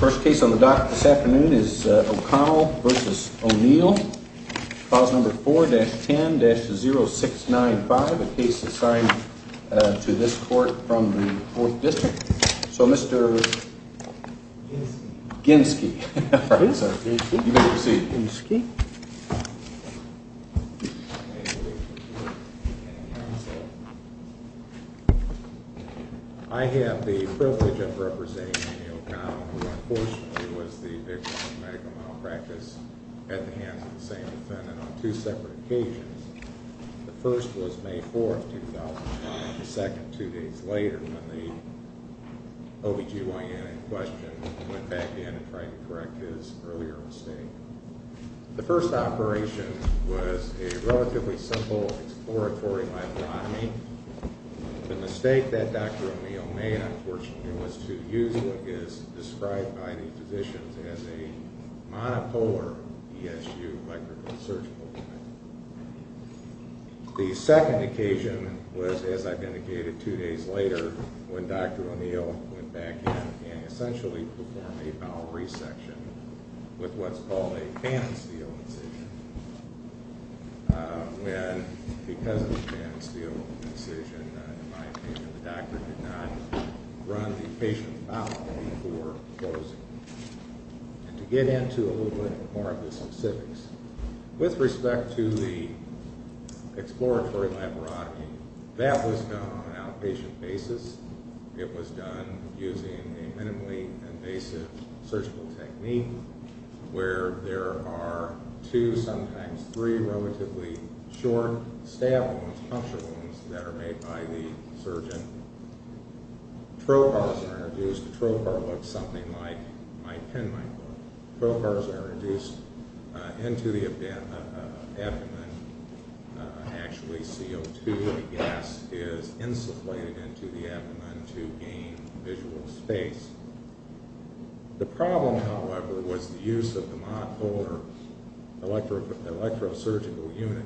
First case on the dock this afternoon is O'Connell v. O'Neill. Clause number 4-10-0695, a case assigned to this court from the 4th District. So Mr. Ginsky. You may proceed. I have the privilege of representing O'Connell who unfortunately was the victim of medical malpractice at the hands of the same defendant on two separate occasions. The first was May 4th, 2005. The second two days later when the OBGYN in question went back in and tried to correct his earlier mistake. The first operation was a relatively simple exploratory myelotomy. The mistake that Dr. O'Neill made unfortunately was to use what is described by the physicians as a monopolar ESU electrical surgical unit. The second occasion was as I've indicated two days later when Dr. O'Neill went back in and essentially performed a bowel resection with what's called a fan and steel incision. Because of the fan and steel incision, in my opinion, the doctor did not run the patient's bowel before closing. To get into a little bit more of the specifics, with respect to the exploratory myelotomy, that was done on an outpatient basis. It was done using a minimally invasive surgical technique where there are two, sometimes three, relatively short stab wounds, puncture wounds that are made by the surgeon. Trocars are induced. Trocar looks something like my pen might look. Trocars are induced into the abdomen. Actually, CO2, the gas, is insufflated into the abdomen to gain visual space. The problem, however, was the use of the monopolar electrosurgical unit.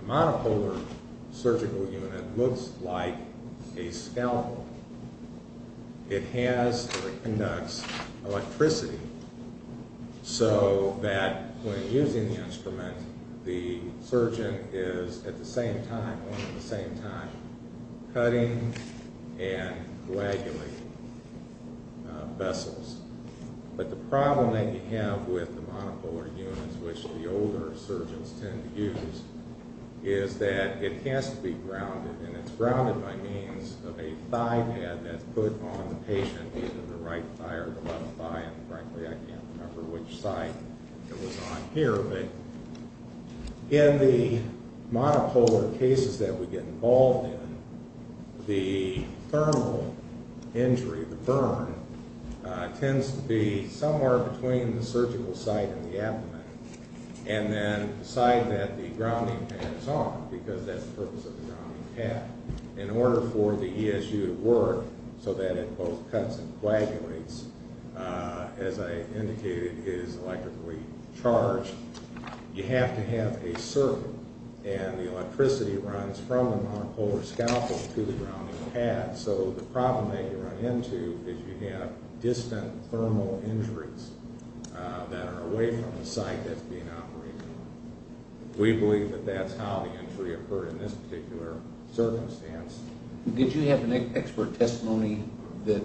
The monopolar surgical unit looks like a scalpel. It has or it conducts electricity so that when using the instrument, the surgeon is at the same time cutting and coagulating vessels. The problem that you have with the monopolar units, which the older surgeons tend to use, is that it has to be grounded. It's grounded by means of a thigh pad that's put on the patient, either the right thigh or the left thigh. Frankly, I can't remember which side it was on here. In the monopolar cases that we get involved in, the thermal injury, the burn, tends to be somewhere between the surgical site and the abdomen. The side that the grounding pad is on, because that's the purpose of the grounding pad, in order for the ESU to work so that it both cuts and coagulates, as I indicated, is electrically charged, you have to have a circuit, and the electricity runs from the monopolar scalpel to the grounding pad. So the problem that you run into is you have distant thermal injuries that are away from the site that's being operated on. We believe that that's how the injury occurred in this particular circumstance. Did you have an expert testimony that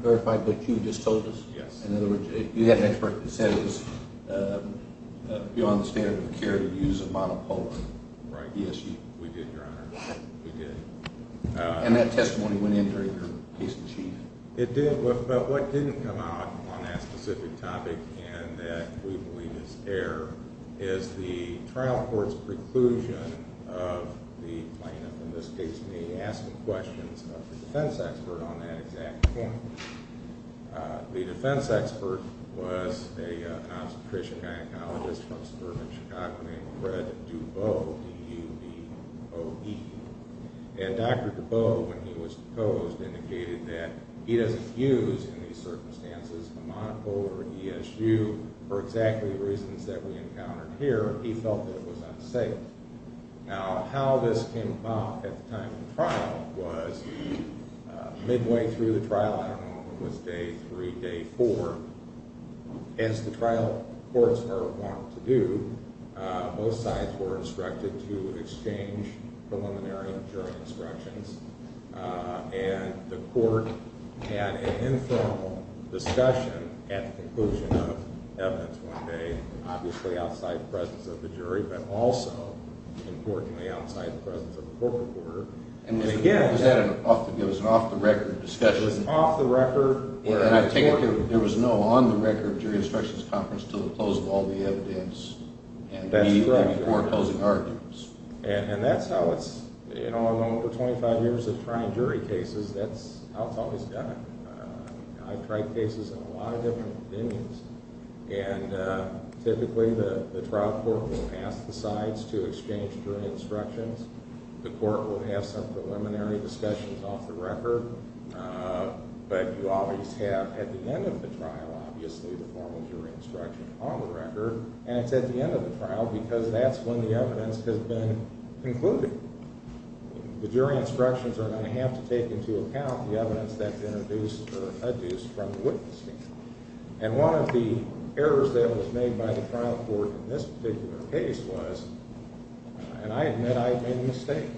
verified what you just told us? Yes. In other words, you had an expert that said it was beyond the standard of care to use a monopolar ESU? Right. We did, Your Honor. We did. And that testimony went in during your case in chief? It did, but what didn't come out on that specific topic, and that we believe is error, is the trial court's preclusion of the plaintiff, in this case me, asking questions of the defense expert on that exact point. The defense expert was a obstetrician-gynecologist from suburban Chicago named Fred Duboe, D-U-B-O-E. And Dr. Duboe, when he was proposed, indicated that he doesn't use, in these circumstances, a monopolar ESU for exactly the reasons that we encountered here. He felt that it was unsafe. Now, how this came about at the time of the trial was midway through the trial, I don't know if it was day three, day four, as the trial courts are wont to do, both sides were instructed to exchange preliminary jury instructions, and the court had an informal discussion at the conclusion of evidence one day, obviously outside the presence of the jury, but also, importantly, outside the presence of the court recorder. And then again… It was an off-the-record discussion. It was off-the-record. There was no on-the-record jury instructions conference until the close of all the evidence, even before closing arguments. And that's how it's, you know, over 25 years of trying jury cases, that's how it's always done. I've tried cases in a lot of different venues, and typically the trial court will pass the sides to exchange jury instructions. The court will have some preliminary discussions off-the-record, but you always have at the end of the trial, obviously, the formal jury instruction on the record, and it's at the end of the trial because that's when the evidence has been concluded. The jury instructions are going to have to take into account the evidence that's introduced or adduced from the witness stand. And one of the errors that was made by the trial court in this particular case was, and I admit I made a mistake,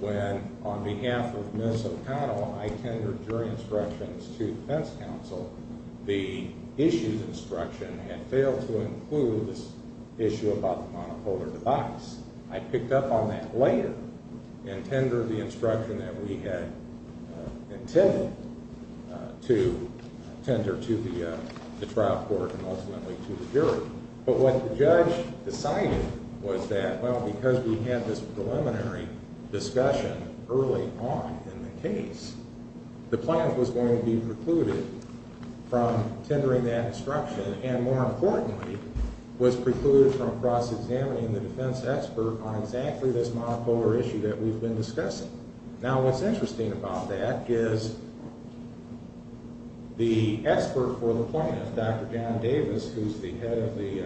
when on behalf of Ms. O'Connell, I tendered jury instructions to defense counsel. The issues instruction had failed to include this issue about the monopolar device. I picked up on that later and tendered the instruction that we had intended to tender to the trial court and ultimately to the jury. But what the judge decided was that, well, because we had this preliminary discussion early on in the case, the plaintiff was going to be precluded from tendering that instruction and, more importantly, was precluded from cross-examining the defense expert on exactly this monopolar issue that we've been discussing. Now, what's interesting about that is the expert for the plaintiff, Dr. Dan Davis, who's the head of the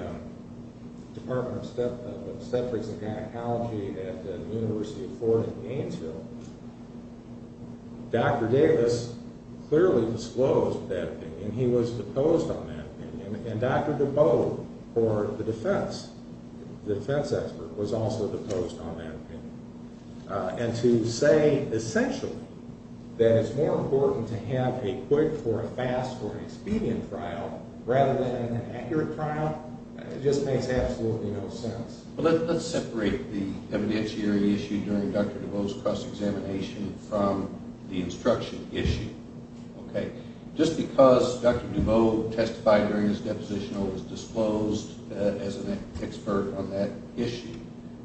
Department of Obstetrics and Gynecology at the University of Florida in Gainesville, Dr. Davis clearly disclosed that opinion. He was deposed on that opinion. And Dr. DuBose, the defense expert, was also deposed on that opinion. And to say, essentially, that it's more important to have a quick or a fast or an expedient trial rather than an accurate trial, it just makes absolutely no sense. Let's separate the evidentiary issue during Dr. DuBose's cross-examination from the instruction issue. Okay? Just because Dr. DuBose testified during his deposition or was disclosed as an expert on that issue,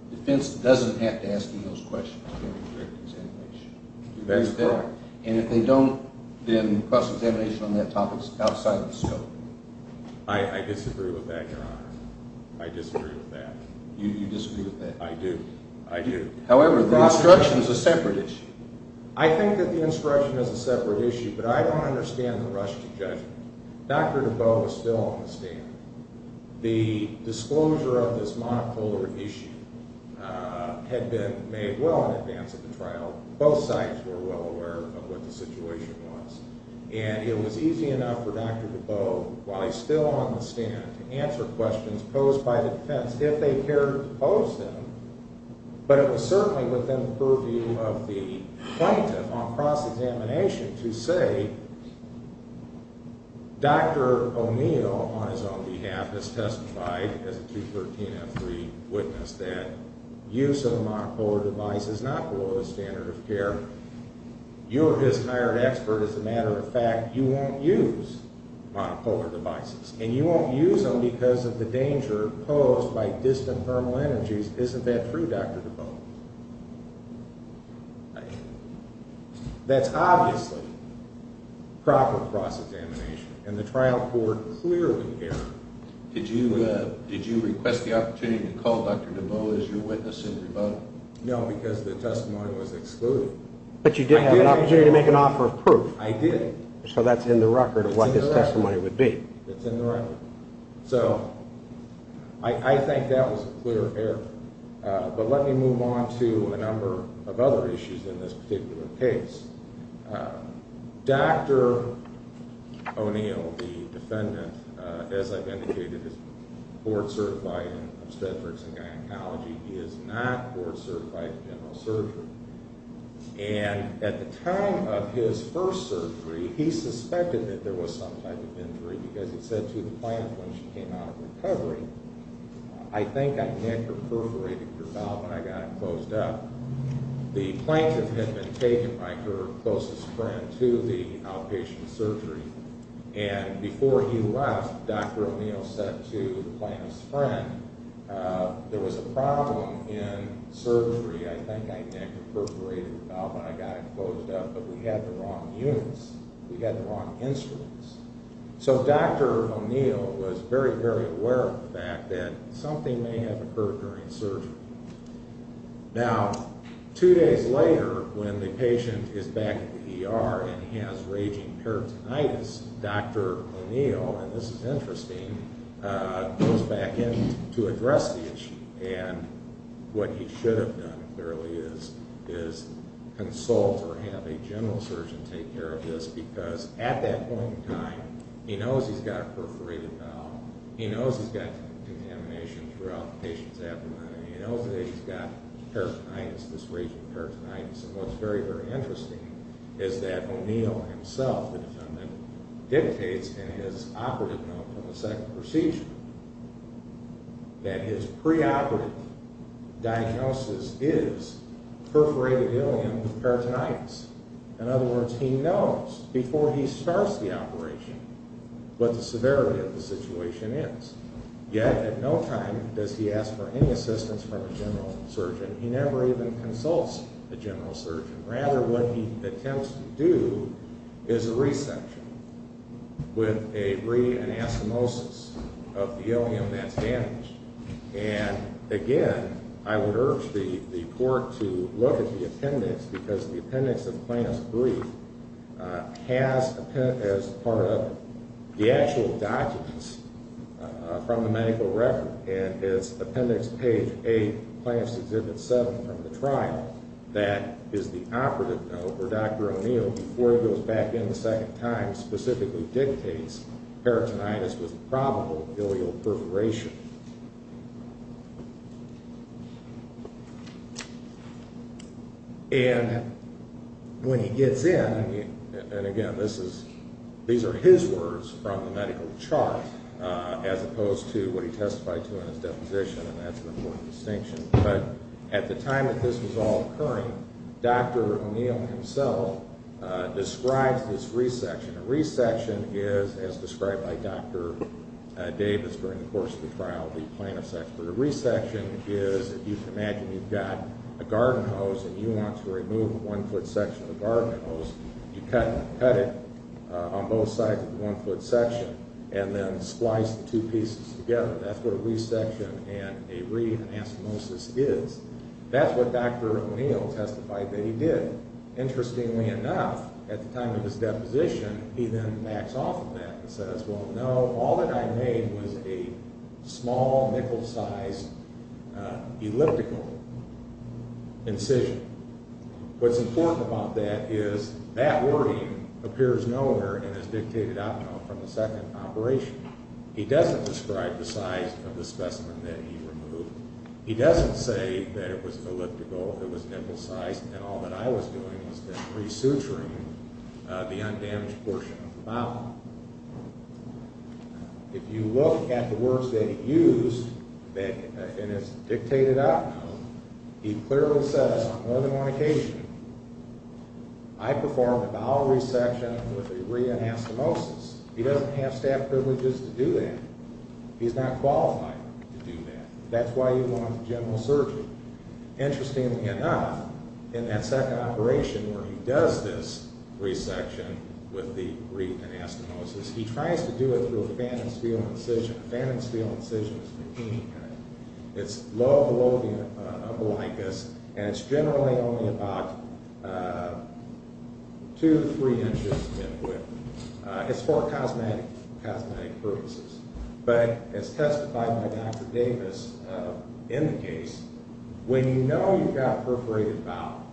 the defense doesn't have to ask him those questions during the cross-examination. That's correct. And if they don't, then cross-examination on that topic is outside of the scope. I disagree with that, Your Honor. I disagree with that. You disagree with that? I do. I do. However, the instruction is a separate issue. I think that the instruction is a separate issue, but I don't understand the rush to judge it. Dr. DuBose is still on the stand. The disclosure of this monocular issue had been made well in advance of the trial. Both sides were well aware of what the situation was. And it was easy enough for Dr. DuBose, while he's still on the stand, to answer questions posed by the defense, if they cared to pose them. But it was certainly within the purview of the plaintiff on cross-examination to say, Dr. O'Neill, on his own behalf, has testified as a 2013 F3 witness, that use of a monocular device is not below the standard of care. You're his hired expert. As a matter of fact, you won't use monocular devices. And you won't use them because of the danger posed by distant thermal energies. Isn't that true, Dr. DuBose? That's obviously proper cross-examination. And the trial court clearly cared. Did you request the opportunity to call Dr. DuBose your witness in rebuttal? No, because the testimony was excluded. But you did have an opportunity to make an offer of proof. I did. So that's in the record of what his testimony would be. It's in the record. So I think that was a clear error. But let me move on to a number of other issues in this particular case. Dr. O'Neill, the defendant, as I've indicated, is board-certified in obstetrics and gynecology. He is not board-certified in general surgery. And at the time of his first surgery, he suspected that there was some type of injury because he said to the plaintiff when she came out of recovery, I think I neck or perforated your valve and I got it closed up. The plaintiff had been taken by her closest friend to the outpatient surgery. And before he left, Dr. O'Neill said to the plaintiff's friend, there was a problem in surgery. I think I neck or perforated your valve and I got it closed up. But we had the wrong units. We had the wrong instruments. So Dr. O'Neill was very, very aware of the fact that something may have occurred during surgery. Now, two days later, when the patient is back at the ER and he has raging peritonitis, Dr. O'Neill, and this is interesting, goes back in to address the issue. And what he should have done, clearly, is consult or have a general surgeon take care of this because at that point in time, he knows he's got a perforated valve. He knows he's got contamination throughout the patient's abdomen. He knows that he's got peritonitis, this raging peritonitis. And what's very, very interesting is that O'Neill himself, the defendant, dictates in his operative note from the second procedure that his preoperative diagnosis is perforated ileum with peritonitis. In other words, he knows before he starts the operation what the severity of the situation is. Yet at no time does he ask for any assistance from a general surgeon. He never even consults a general surgeon. Rather, what he attempts to do is a resection with a re-anastomosis of the ileum that's damaged. And again, I would urge the court to look at the appendix because the appendix of plaintiff's brief has, as part of it, the actual documents from the medical record. And it's Appendix Page 8, Plaintiff's Exhibit 7 from the trial that is the operative note where Dr. O'Neill, before he goes back in the second time, specifically dictates peritonitis with probable ileal perforation. And when he gets in, and again, these are his words from the medical chart as opposed to what he testified to in his deposition, and that's an important distinction. But at the time that this was all occurring, Dr. O'Neill himself describes this resection. A resection is, as described by Dr. Davis during the course of the trial, the plaintiff's expert. A resection is, if you can imagine, you've got a garden hose and you want to remove a one-foot section of the garden hose, you cut it on both sides of the one-foot section and then splice the two pieces together. That's what a resection and a re-anastomosis is. That's what Dr. O'Neill testified that he did. Interestingly enough, at the time of his deposition, he then backs off of that and says, well, no, all that I made was a small nickel-sized elliptical incision. What's important about that is that wording appears nowhere in his dictated op-ed from the second operation. He doesn't describe the size of the specimen that he removed. He doesn't say that it was elliptical, it was nickel-sized, and all that I was doing was resuturing the undamaged portion of the mouth. If you look at the words that he used in his dictated op-ed, he clearly says on more than one occasion, I performed a bowel resection with a re-anastomosis. He doesn't have staff privileges to do that. He's not qualified to do that. That's why he wanted general surgery. Interestingly enough, in that second operation where he does this resection with the re-anastomosis, he tries to do it through a phantom spheal incision. A phantom spheal incision is a machine gun. It's low below the umbilicus, and it's generally only about two to three inches mid-width. It's for cosmetic purposes, but as testified by Dr. Davis in the case, when you know you've got perforated bowel,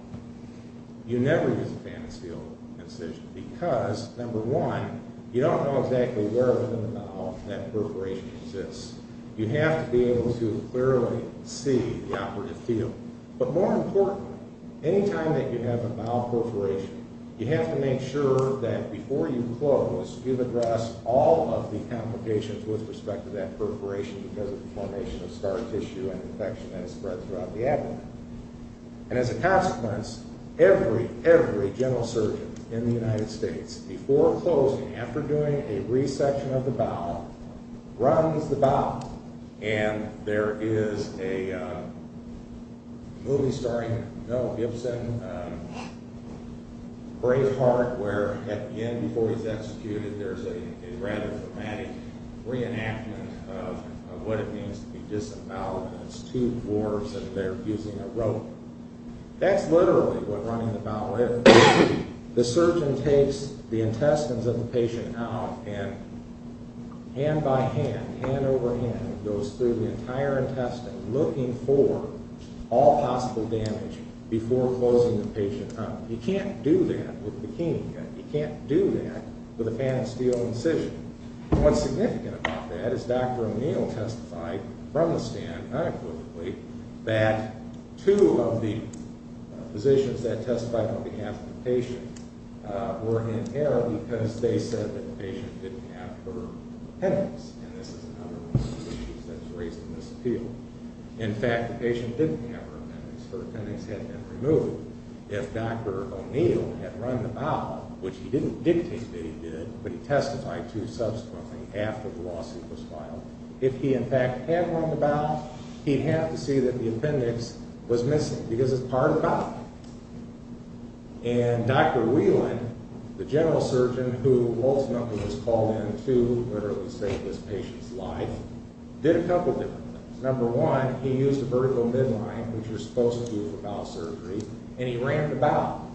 you never use a phantom spheal incision because, number one, you don't know exactly where in the bowel that perforation exists. You have to be able to clearly see the operative field. But more importantly, anytime that you have a bowel perforation, you have to make sure that before you close, you've addressed all of the complications with respect to that perforation because of the formation of scar tissue and infection that has spread throughout the abdomen. And as a consequence, every, every general surgeon in the United States, before closing, after doing a resection of the bowel, runs the bowel. And there is a movie starring Mel Gibson, Braveheart, where at the end, before he's executed, there's a rather dramatic reenactment of what it means to be disemboweled, and it's two dwarves, and they're using a rope. That's literally what running the bowel is. The surgeon takes the intestines of the patient out, and hand by hand, hand over hand, goes through the entire intestine, looking for all possible damage before closing the patient up. You can't do that with a bikini cut. You can't do that with a phantom spheal incision. And what's significant about that is Dr. O'Neill testified from the stand, unequivocally, that two of the physicians that testified on behalf of the patient were inhaled because they said that the patient didn't have her appendix, and this is another one of the issues that's raised in this appeal. In fact, the patient didn't have her appendix. Her appendix had been removed. If Dr. O'Neill had run the bowel, which he didn't dictate that he did, but he testified to subsequently after the lawsuit was filed, if he in fact had run the bowel, he'd have to see that the appendix was missing because it's part of the bowel. And Dr. Whelan, the general surgeon who ultimately was called in to literally save this patient's life, did a couple different things. Number one, he used a vertical midline, which you're supposed to do for bowel surgery, and he ran the bowel,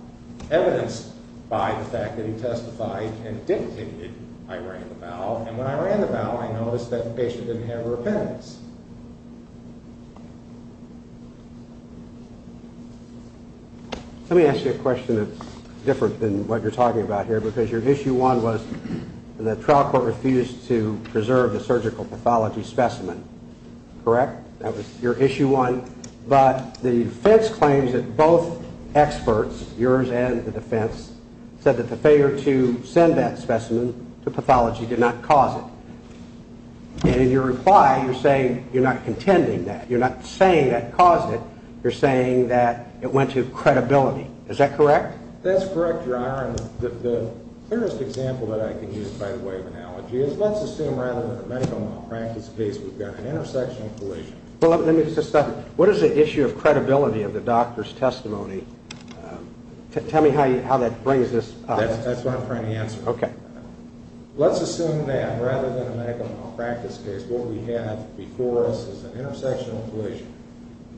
evidenced by the fact that he testified and dictated I ran the bowel. And when I ran the bowel, I noticed that the patient didn't have her appendix. Let me ask you a question that's different than what you're talking about here because your issue one was the trial court refused to preserve the surgical pathology specimen, correct? That was your issue one. But the defense claims that both experts, yours and the defense, said that the failure to send that specimen to pathology did not cause it. And in your reply, you're saying you're not contending that. You're not saying that caused it. You're saying that it went to credibility. Is that correct? That's correct, Your Honor. And the clearest example that I can use by the way of analogy is let's assume rather than a medical malpractice case, we've got an intersectional collision. Well, let me just stop you. What is the issue of credibility of the doctor's testimony? Tell me how that brings this up. That's what I'm trying to answer. Okay. Let's assume that rather than a medical malpractice case, what we have before us is an intersectional collision.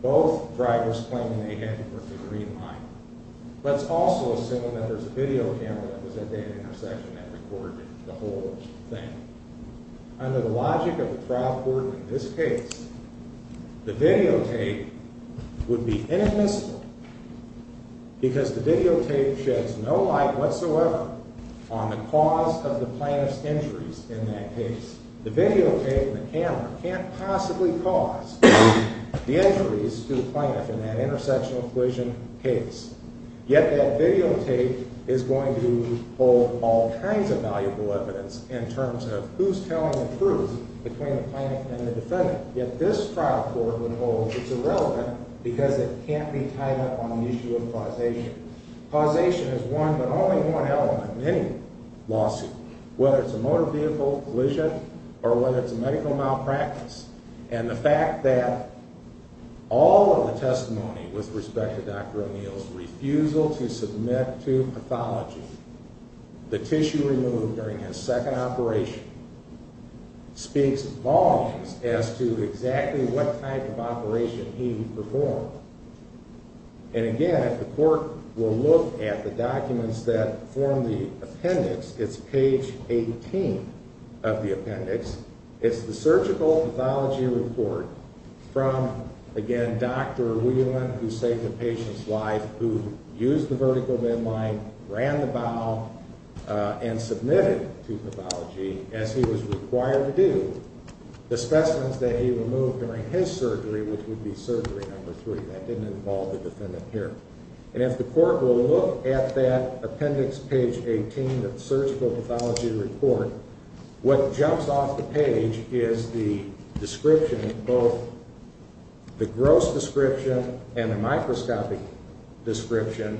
Both drivers claim they had the green light. Let's also assume that there's a video camera that was at that intersection that recorded the whole thing. Under the logic of the trial court in this case, the videotape would be inadmissible because the videotape sheds no light whatsoever on the cause of the plaintiff's injuries in that case. The videotape and the camera can't possibly cause the injuries to the plaintiff in that intersectional collision case. Yet that videotape is going to hold all kinds of valuable evidence in terms of who's telling the truth between the plaintiff and the defendant. Yet this trial court would hold it's irrelevant because it can't be tied up on the issue of causation. Causation is one but only one element in any lawsuit, whether it's a motor vehicle collision or whether it's a medical malpractice. And the fact that all of the testimony with respect to Dr. O'Neill's refusal to submit to pathology the tissue removed during his second operation speaks volumes as to exactly what type of operation he performed. And again, the court will look at the documents that form the appendix. It's page 18 of the appendix. It's the surgical pathology report from, again, Dr. Whelan who saved the patient's life, who used the vertical midline, ran the bowel, and submitted to pathology as he was required to do. The specimens that he removed during his surgery, which would be surgery number three. That didn't involve the defendant here. And if the court will look at that appendix, page 18 of the surgical pathology report, what jumps off the page is the description, both the gross description and the microscopic description,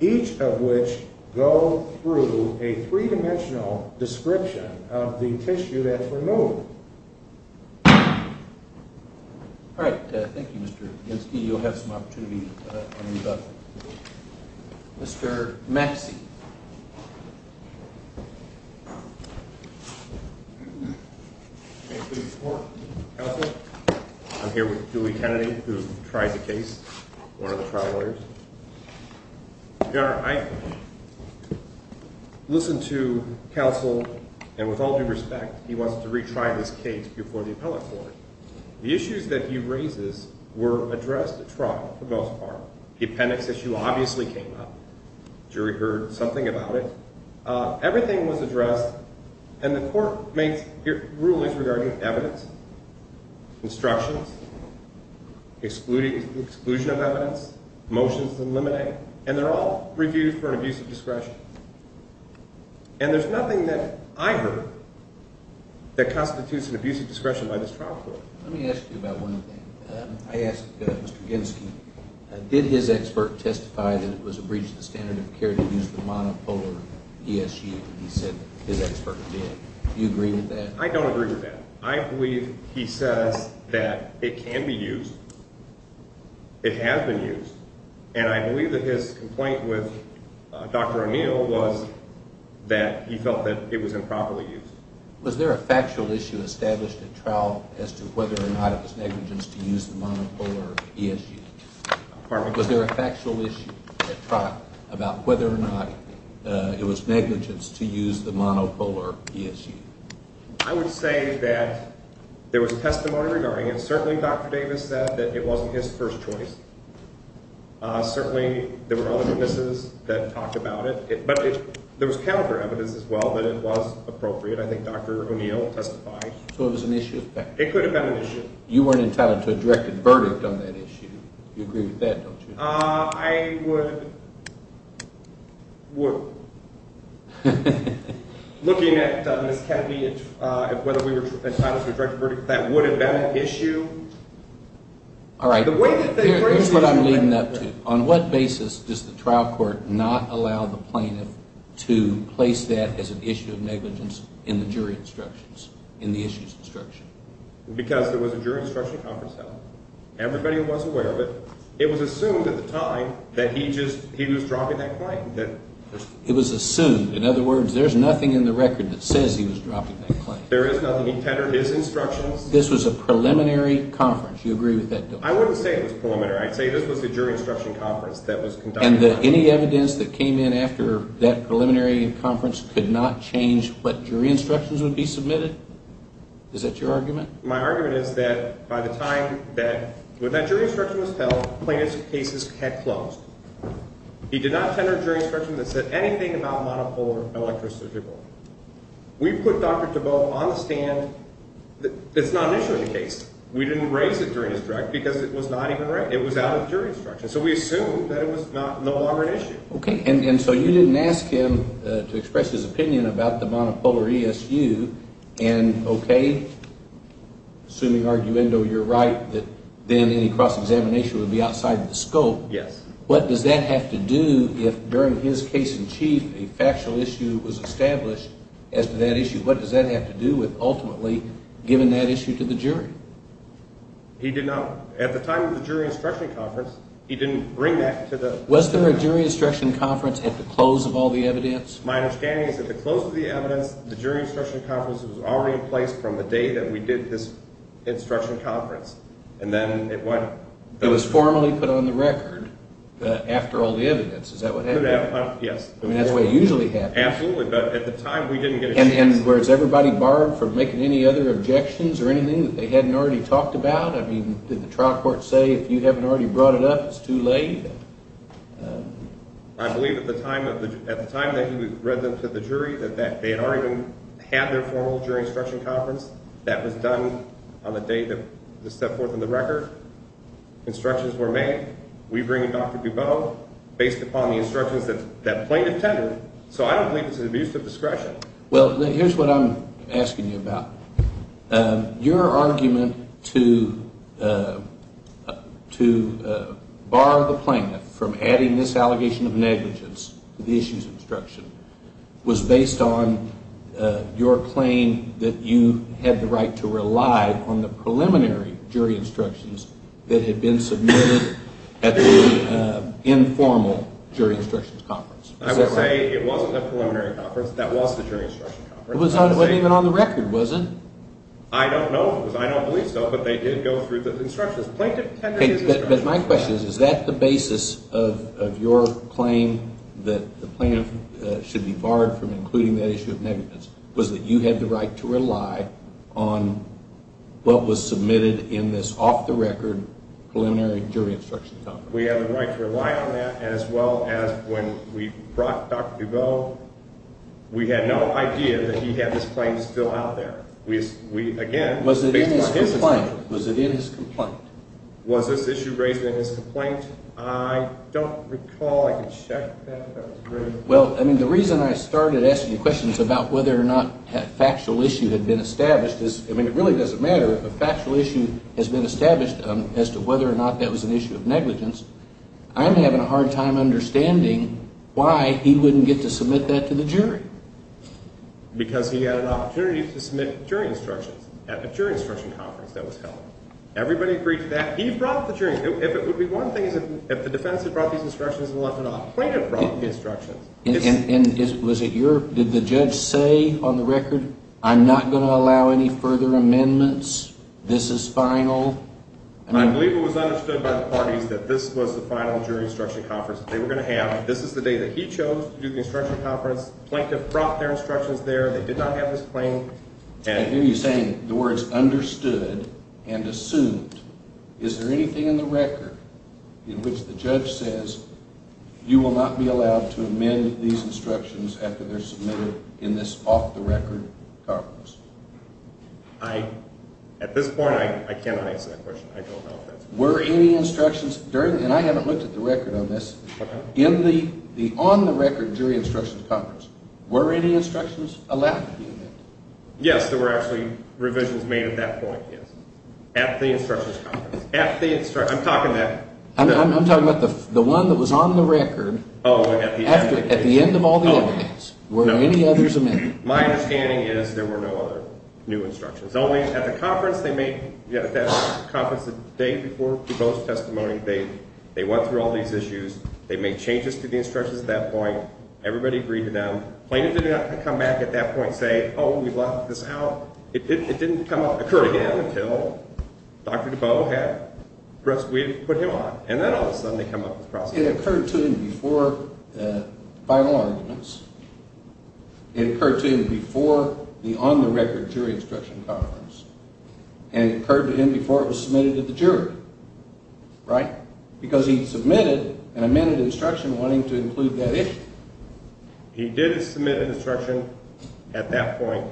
each of which go through a three-dimensional description of the tissue that's removed. All right. Thank you, Mr. Genske. You'll have some opportunity to read up. Mr. Maxey. Thank you, Your Honor. Counsel, I'm here with Dewey Kennedy, who tried the case, one of the trial lawyers. Your Honor, I listened to counsel, and with all due respect, he wants to retry this case before the appellate court. The issues that he raises were addressed at trial for the most part. The appendix issue obviously came up. The jury heard something about it. Everything was addressed, and the court makes rulings regarding evidence, instructions, exclusion of evidence, motions to eliminate, and they're all reviewed for an abuse of discretion. And there's nothing that I heard that constitutes an abuse of discretion by this trial court. Let me ask you about one thing. I asked Mr. Genske, did his expert testify that it was a breach of the standard of care to use the monopolar ESU? He said his expert did. Do you agree with that? I don't agree with that. I believe he says that it can be used, it has been used, and I believe that his complaint with Dr. O'Neill was that he felt that it was improperly used. Was there a factual issue established at trial as to whether or not it was negligence to use the monopolar ESU? Pardon me? Was there a factual issue at trial about whether or not it was negligence to use the monopolar ESU? I would say that there was testimony regarding it. Certainly Dr. Davis said that it wasn't his first choice. Certainly there were other witnesses that talked about it, but there was counter evidence as well that it was appropriate. I think Dr. O'Neill testified. So it was an issue? It could have been an issue. You weren't entitled to a directed verdict on that issue. You agree with that, don't you? I would, looking at Ms. Kennedy and whether we were entitled to a directed verdict, that would have been an issue. All right. Here's what I'm leading up to. On what basis does the trial court not allow the plaintiff to place that as an issue of negligence in the jury instructions, in the ESU's instruction? Because there was a jury instruction conference held. Everybody was aware of it. It was assumed at the time that he was dropping that claim. It was assumed. In other words, there's nothing in the record that says he was dropping that claim. There is nothing. He tethered his instructions. This was a preliminary conference. You agree with that, don't you? I wouldn't say it was preliminary. I'd say this was a jury instruction conference that was conducted. And any evidence that came in after that preliminary conference could not change what jury instructions would be submitted? Is that your argument? My argument is that by the time that that jury instruction was held, the plaintiff's case had closed. He did not tender a jury instruction that said anything about monopolar electrosurgical. We put Dr. DeBoe on the stand. It's not an issue of the case. We didn't raise it during his direct because it was not even raised. It was out of the jury instruction. So we assumed that it was no longer an issue. Okay. And so you didn't ask him to express his opinion about the monopolar ESU. And, okay, assuming, arguendo, you're right, that then any cross-examination would be outside the scope. Yes. What does that have to do if, during his case in chief, a factual issue was established as to that issue? What does that have to do with ultimately giving that issue to the jury? He did not – at the time of the jury instruction conference, he didn't bring that to the – Was there a jury instruction conference at the close of all the evidence? My understanding is that at the close of the evidence, the jury instruction conference was already in place from the day that we did this instruction conference. And then it went – It was formally put on the record after all the evidence. Is that what happened? Yes. I mean, that's the way it usually happens. Absolutely. But at the time, we didn't get a chance. And was everybody barred from making any other objections or anything that they hadn't already talked about? I mean, did the trial court say, if you haven't already brought it up, it's too late? I believe at the time that he read them to the jury that they had already had their formal jury instruction conference. That was done on the day that was set forth in the record. Instructions were made. We bring Dr. Dubow based upon the instructions that plaintiff tended. So I don't believe it's an abuse of discretion. Well, here's what I'm asking you about. Your argument to bar the plaintiff from adding this allegation of negligence to the issues instruction was based on your claim that you had the right to rely on the preliminary jury instructions that had been submitted at the informal jury instructions conference. I would say it wasn't the preliminary conference. That was the jury instruction conference. It wasn't even on the record, was it? I don't know because I don't believe so, but they did go through the instructions. Plaintiff tended to the instructions. But my question is, is that the basis of your claim that the plaintiff should be barred from including that issue of negligence was that you had the right to rely on what was submitted in this off-the-record preliminary jury instruction conference? We had the right to rely on that as well as when we brought Dr. Dubow, we had no idea that he had this claim still out there. Was it in his complaint? Was it in his complaint? Was this issue raised in his complaint? I don't recall. I can check that. Well, I mean, the reason I started asking questions about whether or not a factual issue had been established is, I mean, it really doesn't matter if a factual issue has been established as to whether or not that was an issue of negligence. I'm having a hard time understanding why he wouldn't get to submit that to the jury. Because he had an opportunity to submit jury instructions at the jury instruction conference that was held. Everybody agreed to that. He brought the jury. If it would be one thing if the defense had brought these instructions and left it off, the plaintiff brought the instructions. And was it your, did the judge say on the record, I'm not going to allow any further amendments, this is final? I believe it was understood by the parties that this was the final jury instruction conference that they were going to have. This is the day that he chose to do the instruction conference. The plaintiff brought their instructions there. They did not have his claim. I hear you saying the words understood and assumed. Is there anything in the record in which the judge says, you will not be allowed to amend these instructions after they're submitted in this off-the-record conference? At this point, I cannot answer that question. I don't know if that's correct. Were any instructions, and I haven't looked at the record on this, in the on-the-record jury instruction conference, were any instructions allowed to be amended? Yes, there were actually revisions made at that point, yes. At the instruction conference. I'm talking about the one that was on the record at the end of all the other days. Were any others amended? My understanding is there were no other new instructions, only at the conference the day before DeBoe's testimony, they went through all these issues. They made changes to the instructions at that point. Everybody agreed to them. The plaintiff did not come back at that point and say, oh, we've left this out. It didn't occur again until Dr. DeBoe had put him on, and then all of a sudden they come up with the process. It occurred to him before the final arguments. It occurred to him before the on-the-record jury instruction conference. And it occurred to him before it was submitted to the jury. Right? Because he submitted an amended instruction wanting to include that issue. He did submit an instruction at that point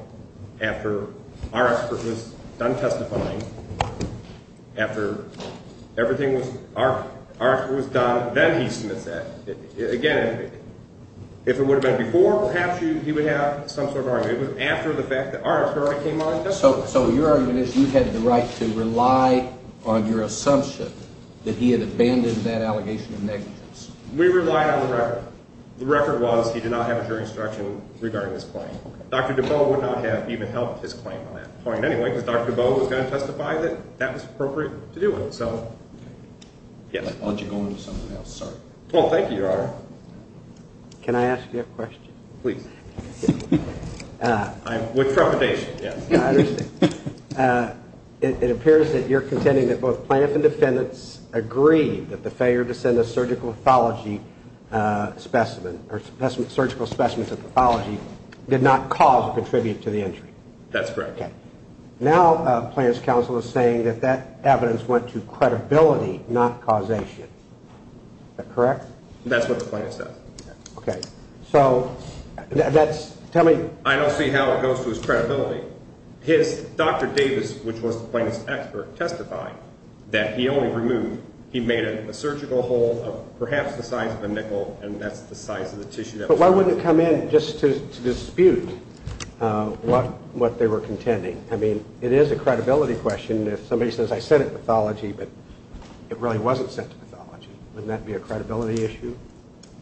after our expert was done testifying, after our expert was done, then he submits that. Again, if it would have been before, perhaps he would have some sort of argument. It was after the fact that our expert came on. So your argument is you had the right to rely on your assumption that he had abandoned that allegation of negligence. We relied on the record. The record was he did not have a jury instruction regarding his claim. Dr. DeBoe would not have even helped his claim on that point anyway because Dr. DeBoe was going to testify that that was appropriate to do it. I'll let you go on to something else. Oh, thank you, Your Honor. Can I ask you a question? Please. With trepidation, yes. I understand. It appears that you're contending that both plaintiff and defendants agreed that the failure to send a surgical pathology specimen or surgical specimens of pathology did not cause or contribute to the injury. That's correct. Okay. Now plaintiff's counsel is saying that that evidence went to credibility, not causation. Is that correct? That's what the plaintiff says. Okay. So that's – tell me – I don't see how it goes to his credibility. His – Dr. Davis, which was the plaintiff's expert, testified that he only removed – he made a surgical hole of perhaps the size of a nickel, and that's the size of the tissue that was removed. But why wouldn't it come in just to dispute what they were contending? I mean, it is a credibility question. If somebody says, I sent it to pathology, but it really wasn't sent to pathology, wouldn't that be a credibility issue?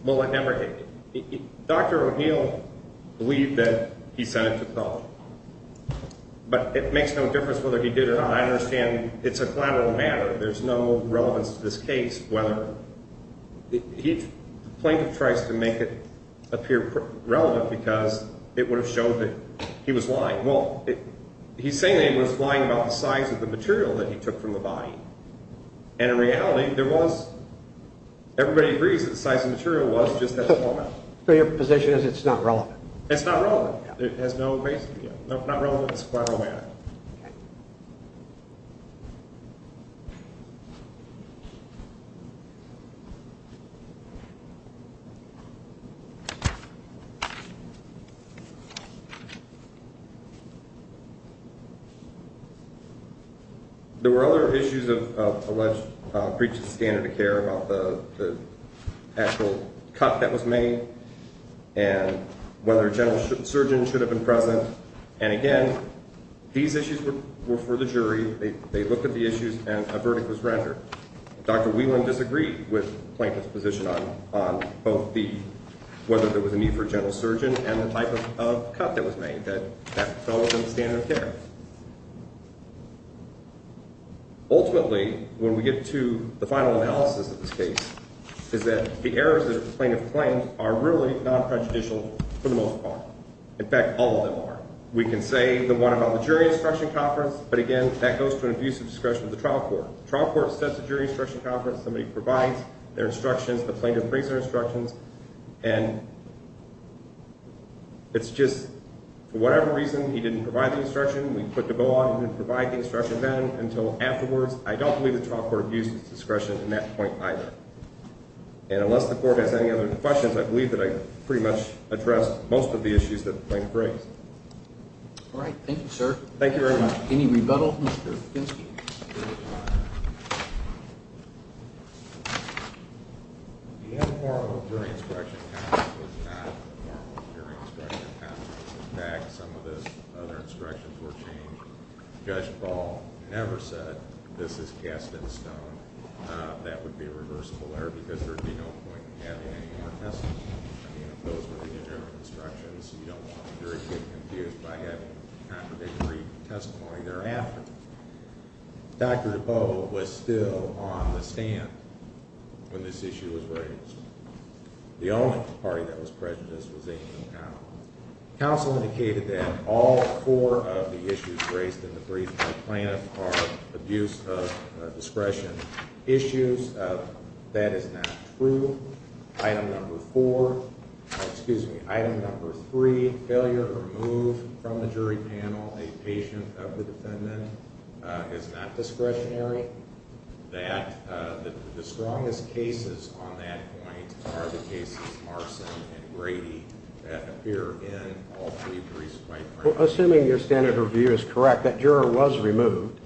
Well, remember, Dr. O'Neill believed that he sent it to pathology. But it makes no difference whether he did or not. I understand it's a collateral matter. There's no relevance to this case whether – the plaintiff tries to make it appear relevant because it would have showed that he was lying. Well, he's saying that he was lying about the size of the material that he took from the body. And in reality, there was – everybody agrees that the size of the material was just a collateral matter. So your position is it's not relevant? It's not relevant. It has no basis. If it's not relevant, it's a collateral matter. Okay. There were other issues of alleged breach of standard of care about the actual cut that was made and whether a general surgeon should have been present. And again, these issues were for the jury. They looked at the issues, and a verdict was rendered. Dr. Whelan disagreed with the plaintiff's position on both the – whether there was a need for a general surgeon and the type of cut that was made that fell within the standard of care. Ultimately, when we get to the final analysis of this case, is that the errors that the plaintiff claims are really non-prejudicial for the most part. In fact, all of them are. We can say the one about the jury instruction conference, but again, that goes to an abuse of discretion of the trial court. The trial court sets a jury instruction conference. Somebody provides their instructions, the plaintiff brings their instructions, and it's just – for whatever reason, he didn't provide the instruction. We put the bill on him to provide the instruction then until afterwards. I don't believe the trial court abused its discretion in that point either. And unless the court has any other questions, I believe that I pretty much addressed most of the issues that the plaintiff raised. All right. Thank you, sir. Thank you very much. Any rebuttals, Mr. Finke? The informal jury instruction conference was not an informal jury instruction conference. In fact, some of the other instructions were changed. Judge Ball never said this is cast in stone. That would be a reversible error because there would be no point in having any more testimony. I mean, if those were the general instructions, you don't want the jury to get confused by having contradictory testimony thereafter. Dr. DePauw was still on the stand when this issue was raised. The only party that was prejudiced was Amy O'Connell. Counsel indicated that all four of the issues raised in the brief by the plaintiff are abuse of discretion issues. That is not true. Item number four, excuse me, item number three, failure to remove from the jury panel a patient of the defendant is not discretionary. The strongest cases on that point are the cases Marston and Grady that appear in all three briefs by the plaintiff. Well, assuming your standard review is correct, that juror was removed.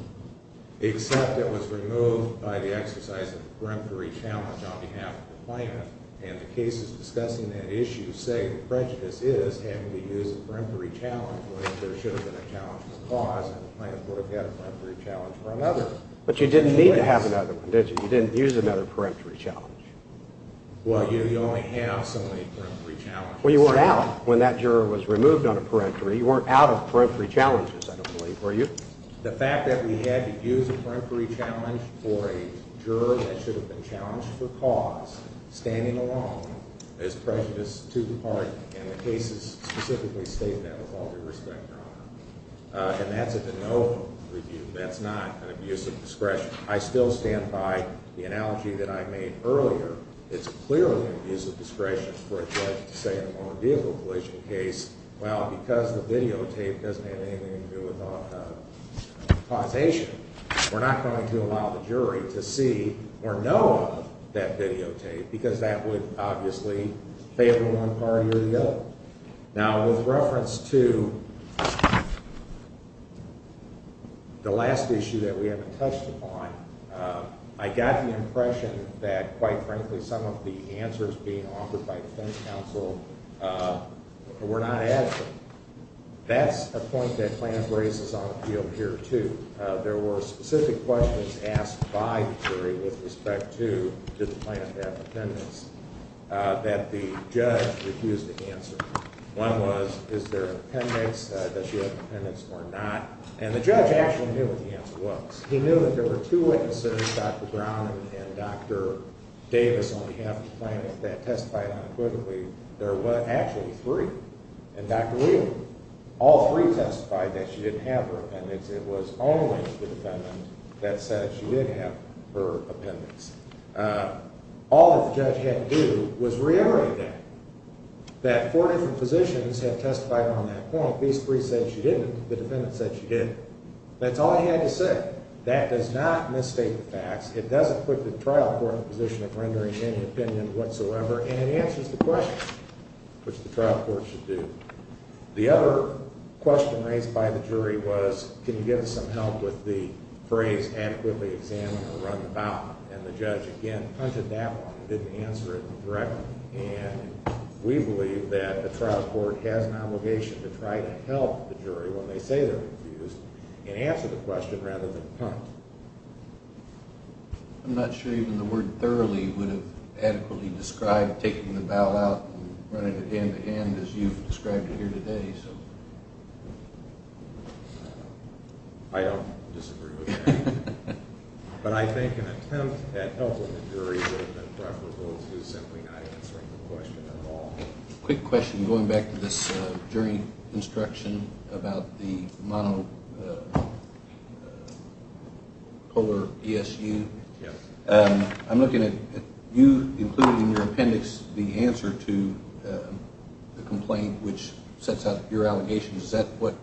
Except it was removed by the exercise of a peremptory challenge on behalf of the plaintiff. And the cases discussing that issue say the prejudice is having to use a peremptory challenge, like there should have been a challenge with cause and the plaintiff would have had a peremptory challenge for another. But you didn't need to have another one, did you? You didn't use another peremptory challenge. Well, you only have so many peremptory challenges. Well, you weren't out when that juror was removed on a peremptory. You weren't out of peremptory challenges, I don't believe, were you? The fact that we had to use a peremptory challenge for a juror that should have been challenged for cause, standing alone, is prejudice to the party. And that's a de novo review. That's not an abuse of discretion. I still stand by the analogy that I made earlier. It's clearly an abuse of discretion for a judge to say in a motor vehicle collision case, well, because the videotape doesn't have anything to do with the quotation, we're not going to allow the jury to see or know of that videotape because that would obviously favor one party or the other. Now, with reference to the last issue that we haven't touched upon, I got the impression that, quite frankly, some of the answers being offered by defense counsel were not adequate. That's a point that plaintiff raises on the field here, too. There were specific questions asked by the jury with respect to did the plaintiff have defendants that the judge refused to answer. One was, is there an appendix? Does she have an appendix or not? And the judge actually knew what the answer was. He knew that there were two witnesses, Dr. Brown and Dr. Davis, on behalf of the plaintiff that testified unequivocally. There were actually three. And Dr. Lee, all three testified that she didn't have her appendix. It was only the defendant that said she did have her appendix. All that the judge had to do was reiterate that, that four different positions have testified on that point. These three said she didn't. The defendant said she did. That's all he had to say. That does not misstate the facts. It doesn't put the trial court in a position of rendering any opinion whatsoever, and it answers the question, which the trial court should do. The other question raised by the jury was, can you give us some help with the phrase adequately examine or run the bowel? And the judge, again, punted that one and didn't answer it correctly. And we believe that the trial court has an obligation to try to help the jury when they say they're confused and answer the question rather than punt. I'm not sure even the word thoroughly would have adequately described taking the bowel out and running it hand-to-hand as you've described it here today. I don't disagree with that. But I think an attempt at helping the jury would have been preferable to simply not answering the question at all. Quick question, going back to this jury instruction about the monopolar PSU. I'm looking at you including in your appendix the answer to the complaint, which sets out your allegations. Is that where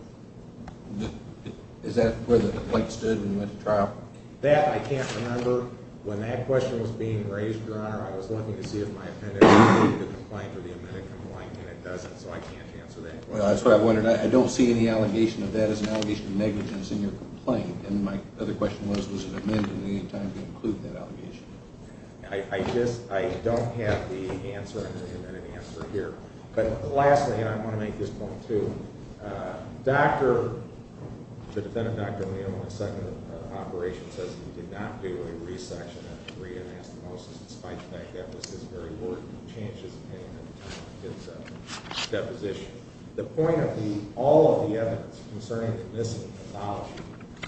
the plate stood when you went to trial? That I can't remember. When that question was being raised, Your Honor, I was looking to see if my appendix included the complaint or the amended complaint, and it doesn't, so I can't answer that question. Well, that's why I wondered. I don't see any allegation of that as an allegation of negligence in your complaint. And my other question was, was it amended at any time to include that allegation? I don't have the answer in the amended answer here. But lastly, and I want to make this point, too, the defendant, Dr. O'Neill, in his second operation, says he did not do a resection, a re-anastomosis, despite the fact that it was his very word and he changed his opinion at the time of his deposition. The point of all of the evidence concerning this pathology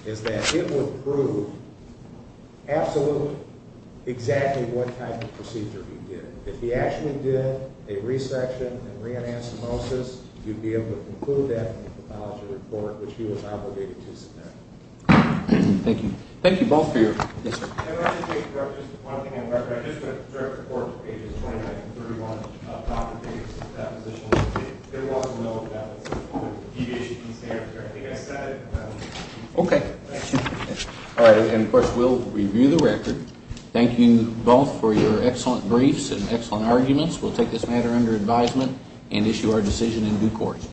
is that it would prove absolutely exactly what type of procedure he did. And if he actually did a resection and re-anastomosis, you'd be able to conclude that in the pathology report, which he was obligated to submit. Thank you. Thank you both for your... Yes, sir. I just want to make a point. I just went through a report on pages 29 and 31 of Dr. Davis' deposition. There was no deviation in standards there. I think I said it. Okay. All right. And, of course, we'll review the record. Thank you both for your excellent briefs and excellent arguments. We'll take this matter under advisement and issue our decision in due court.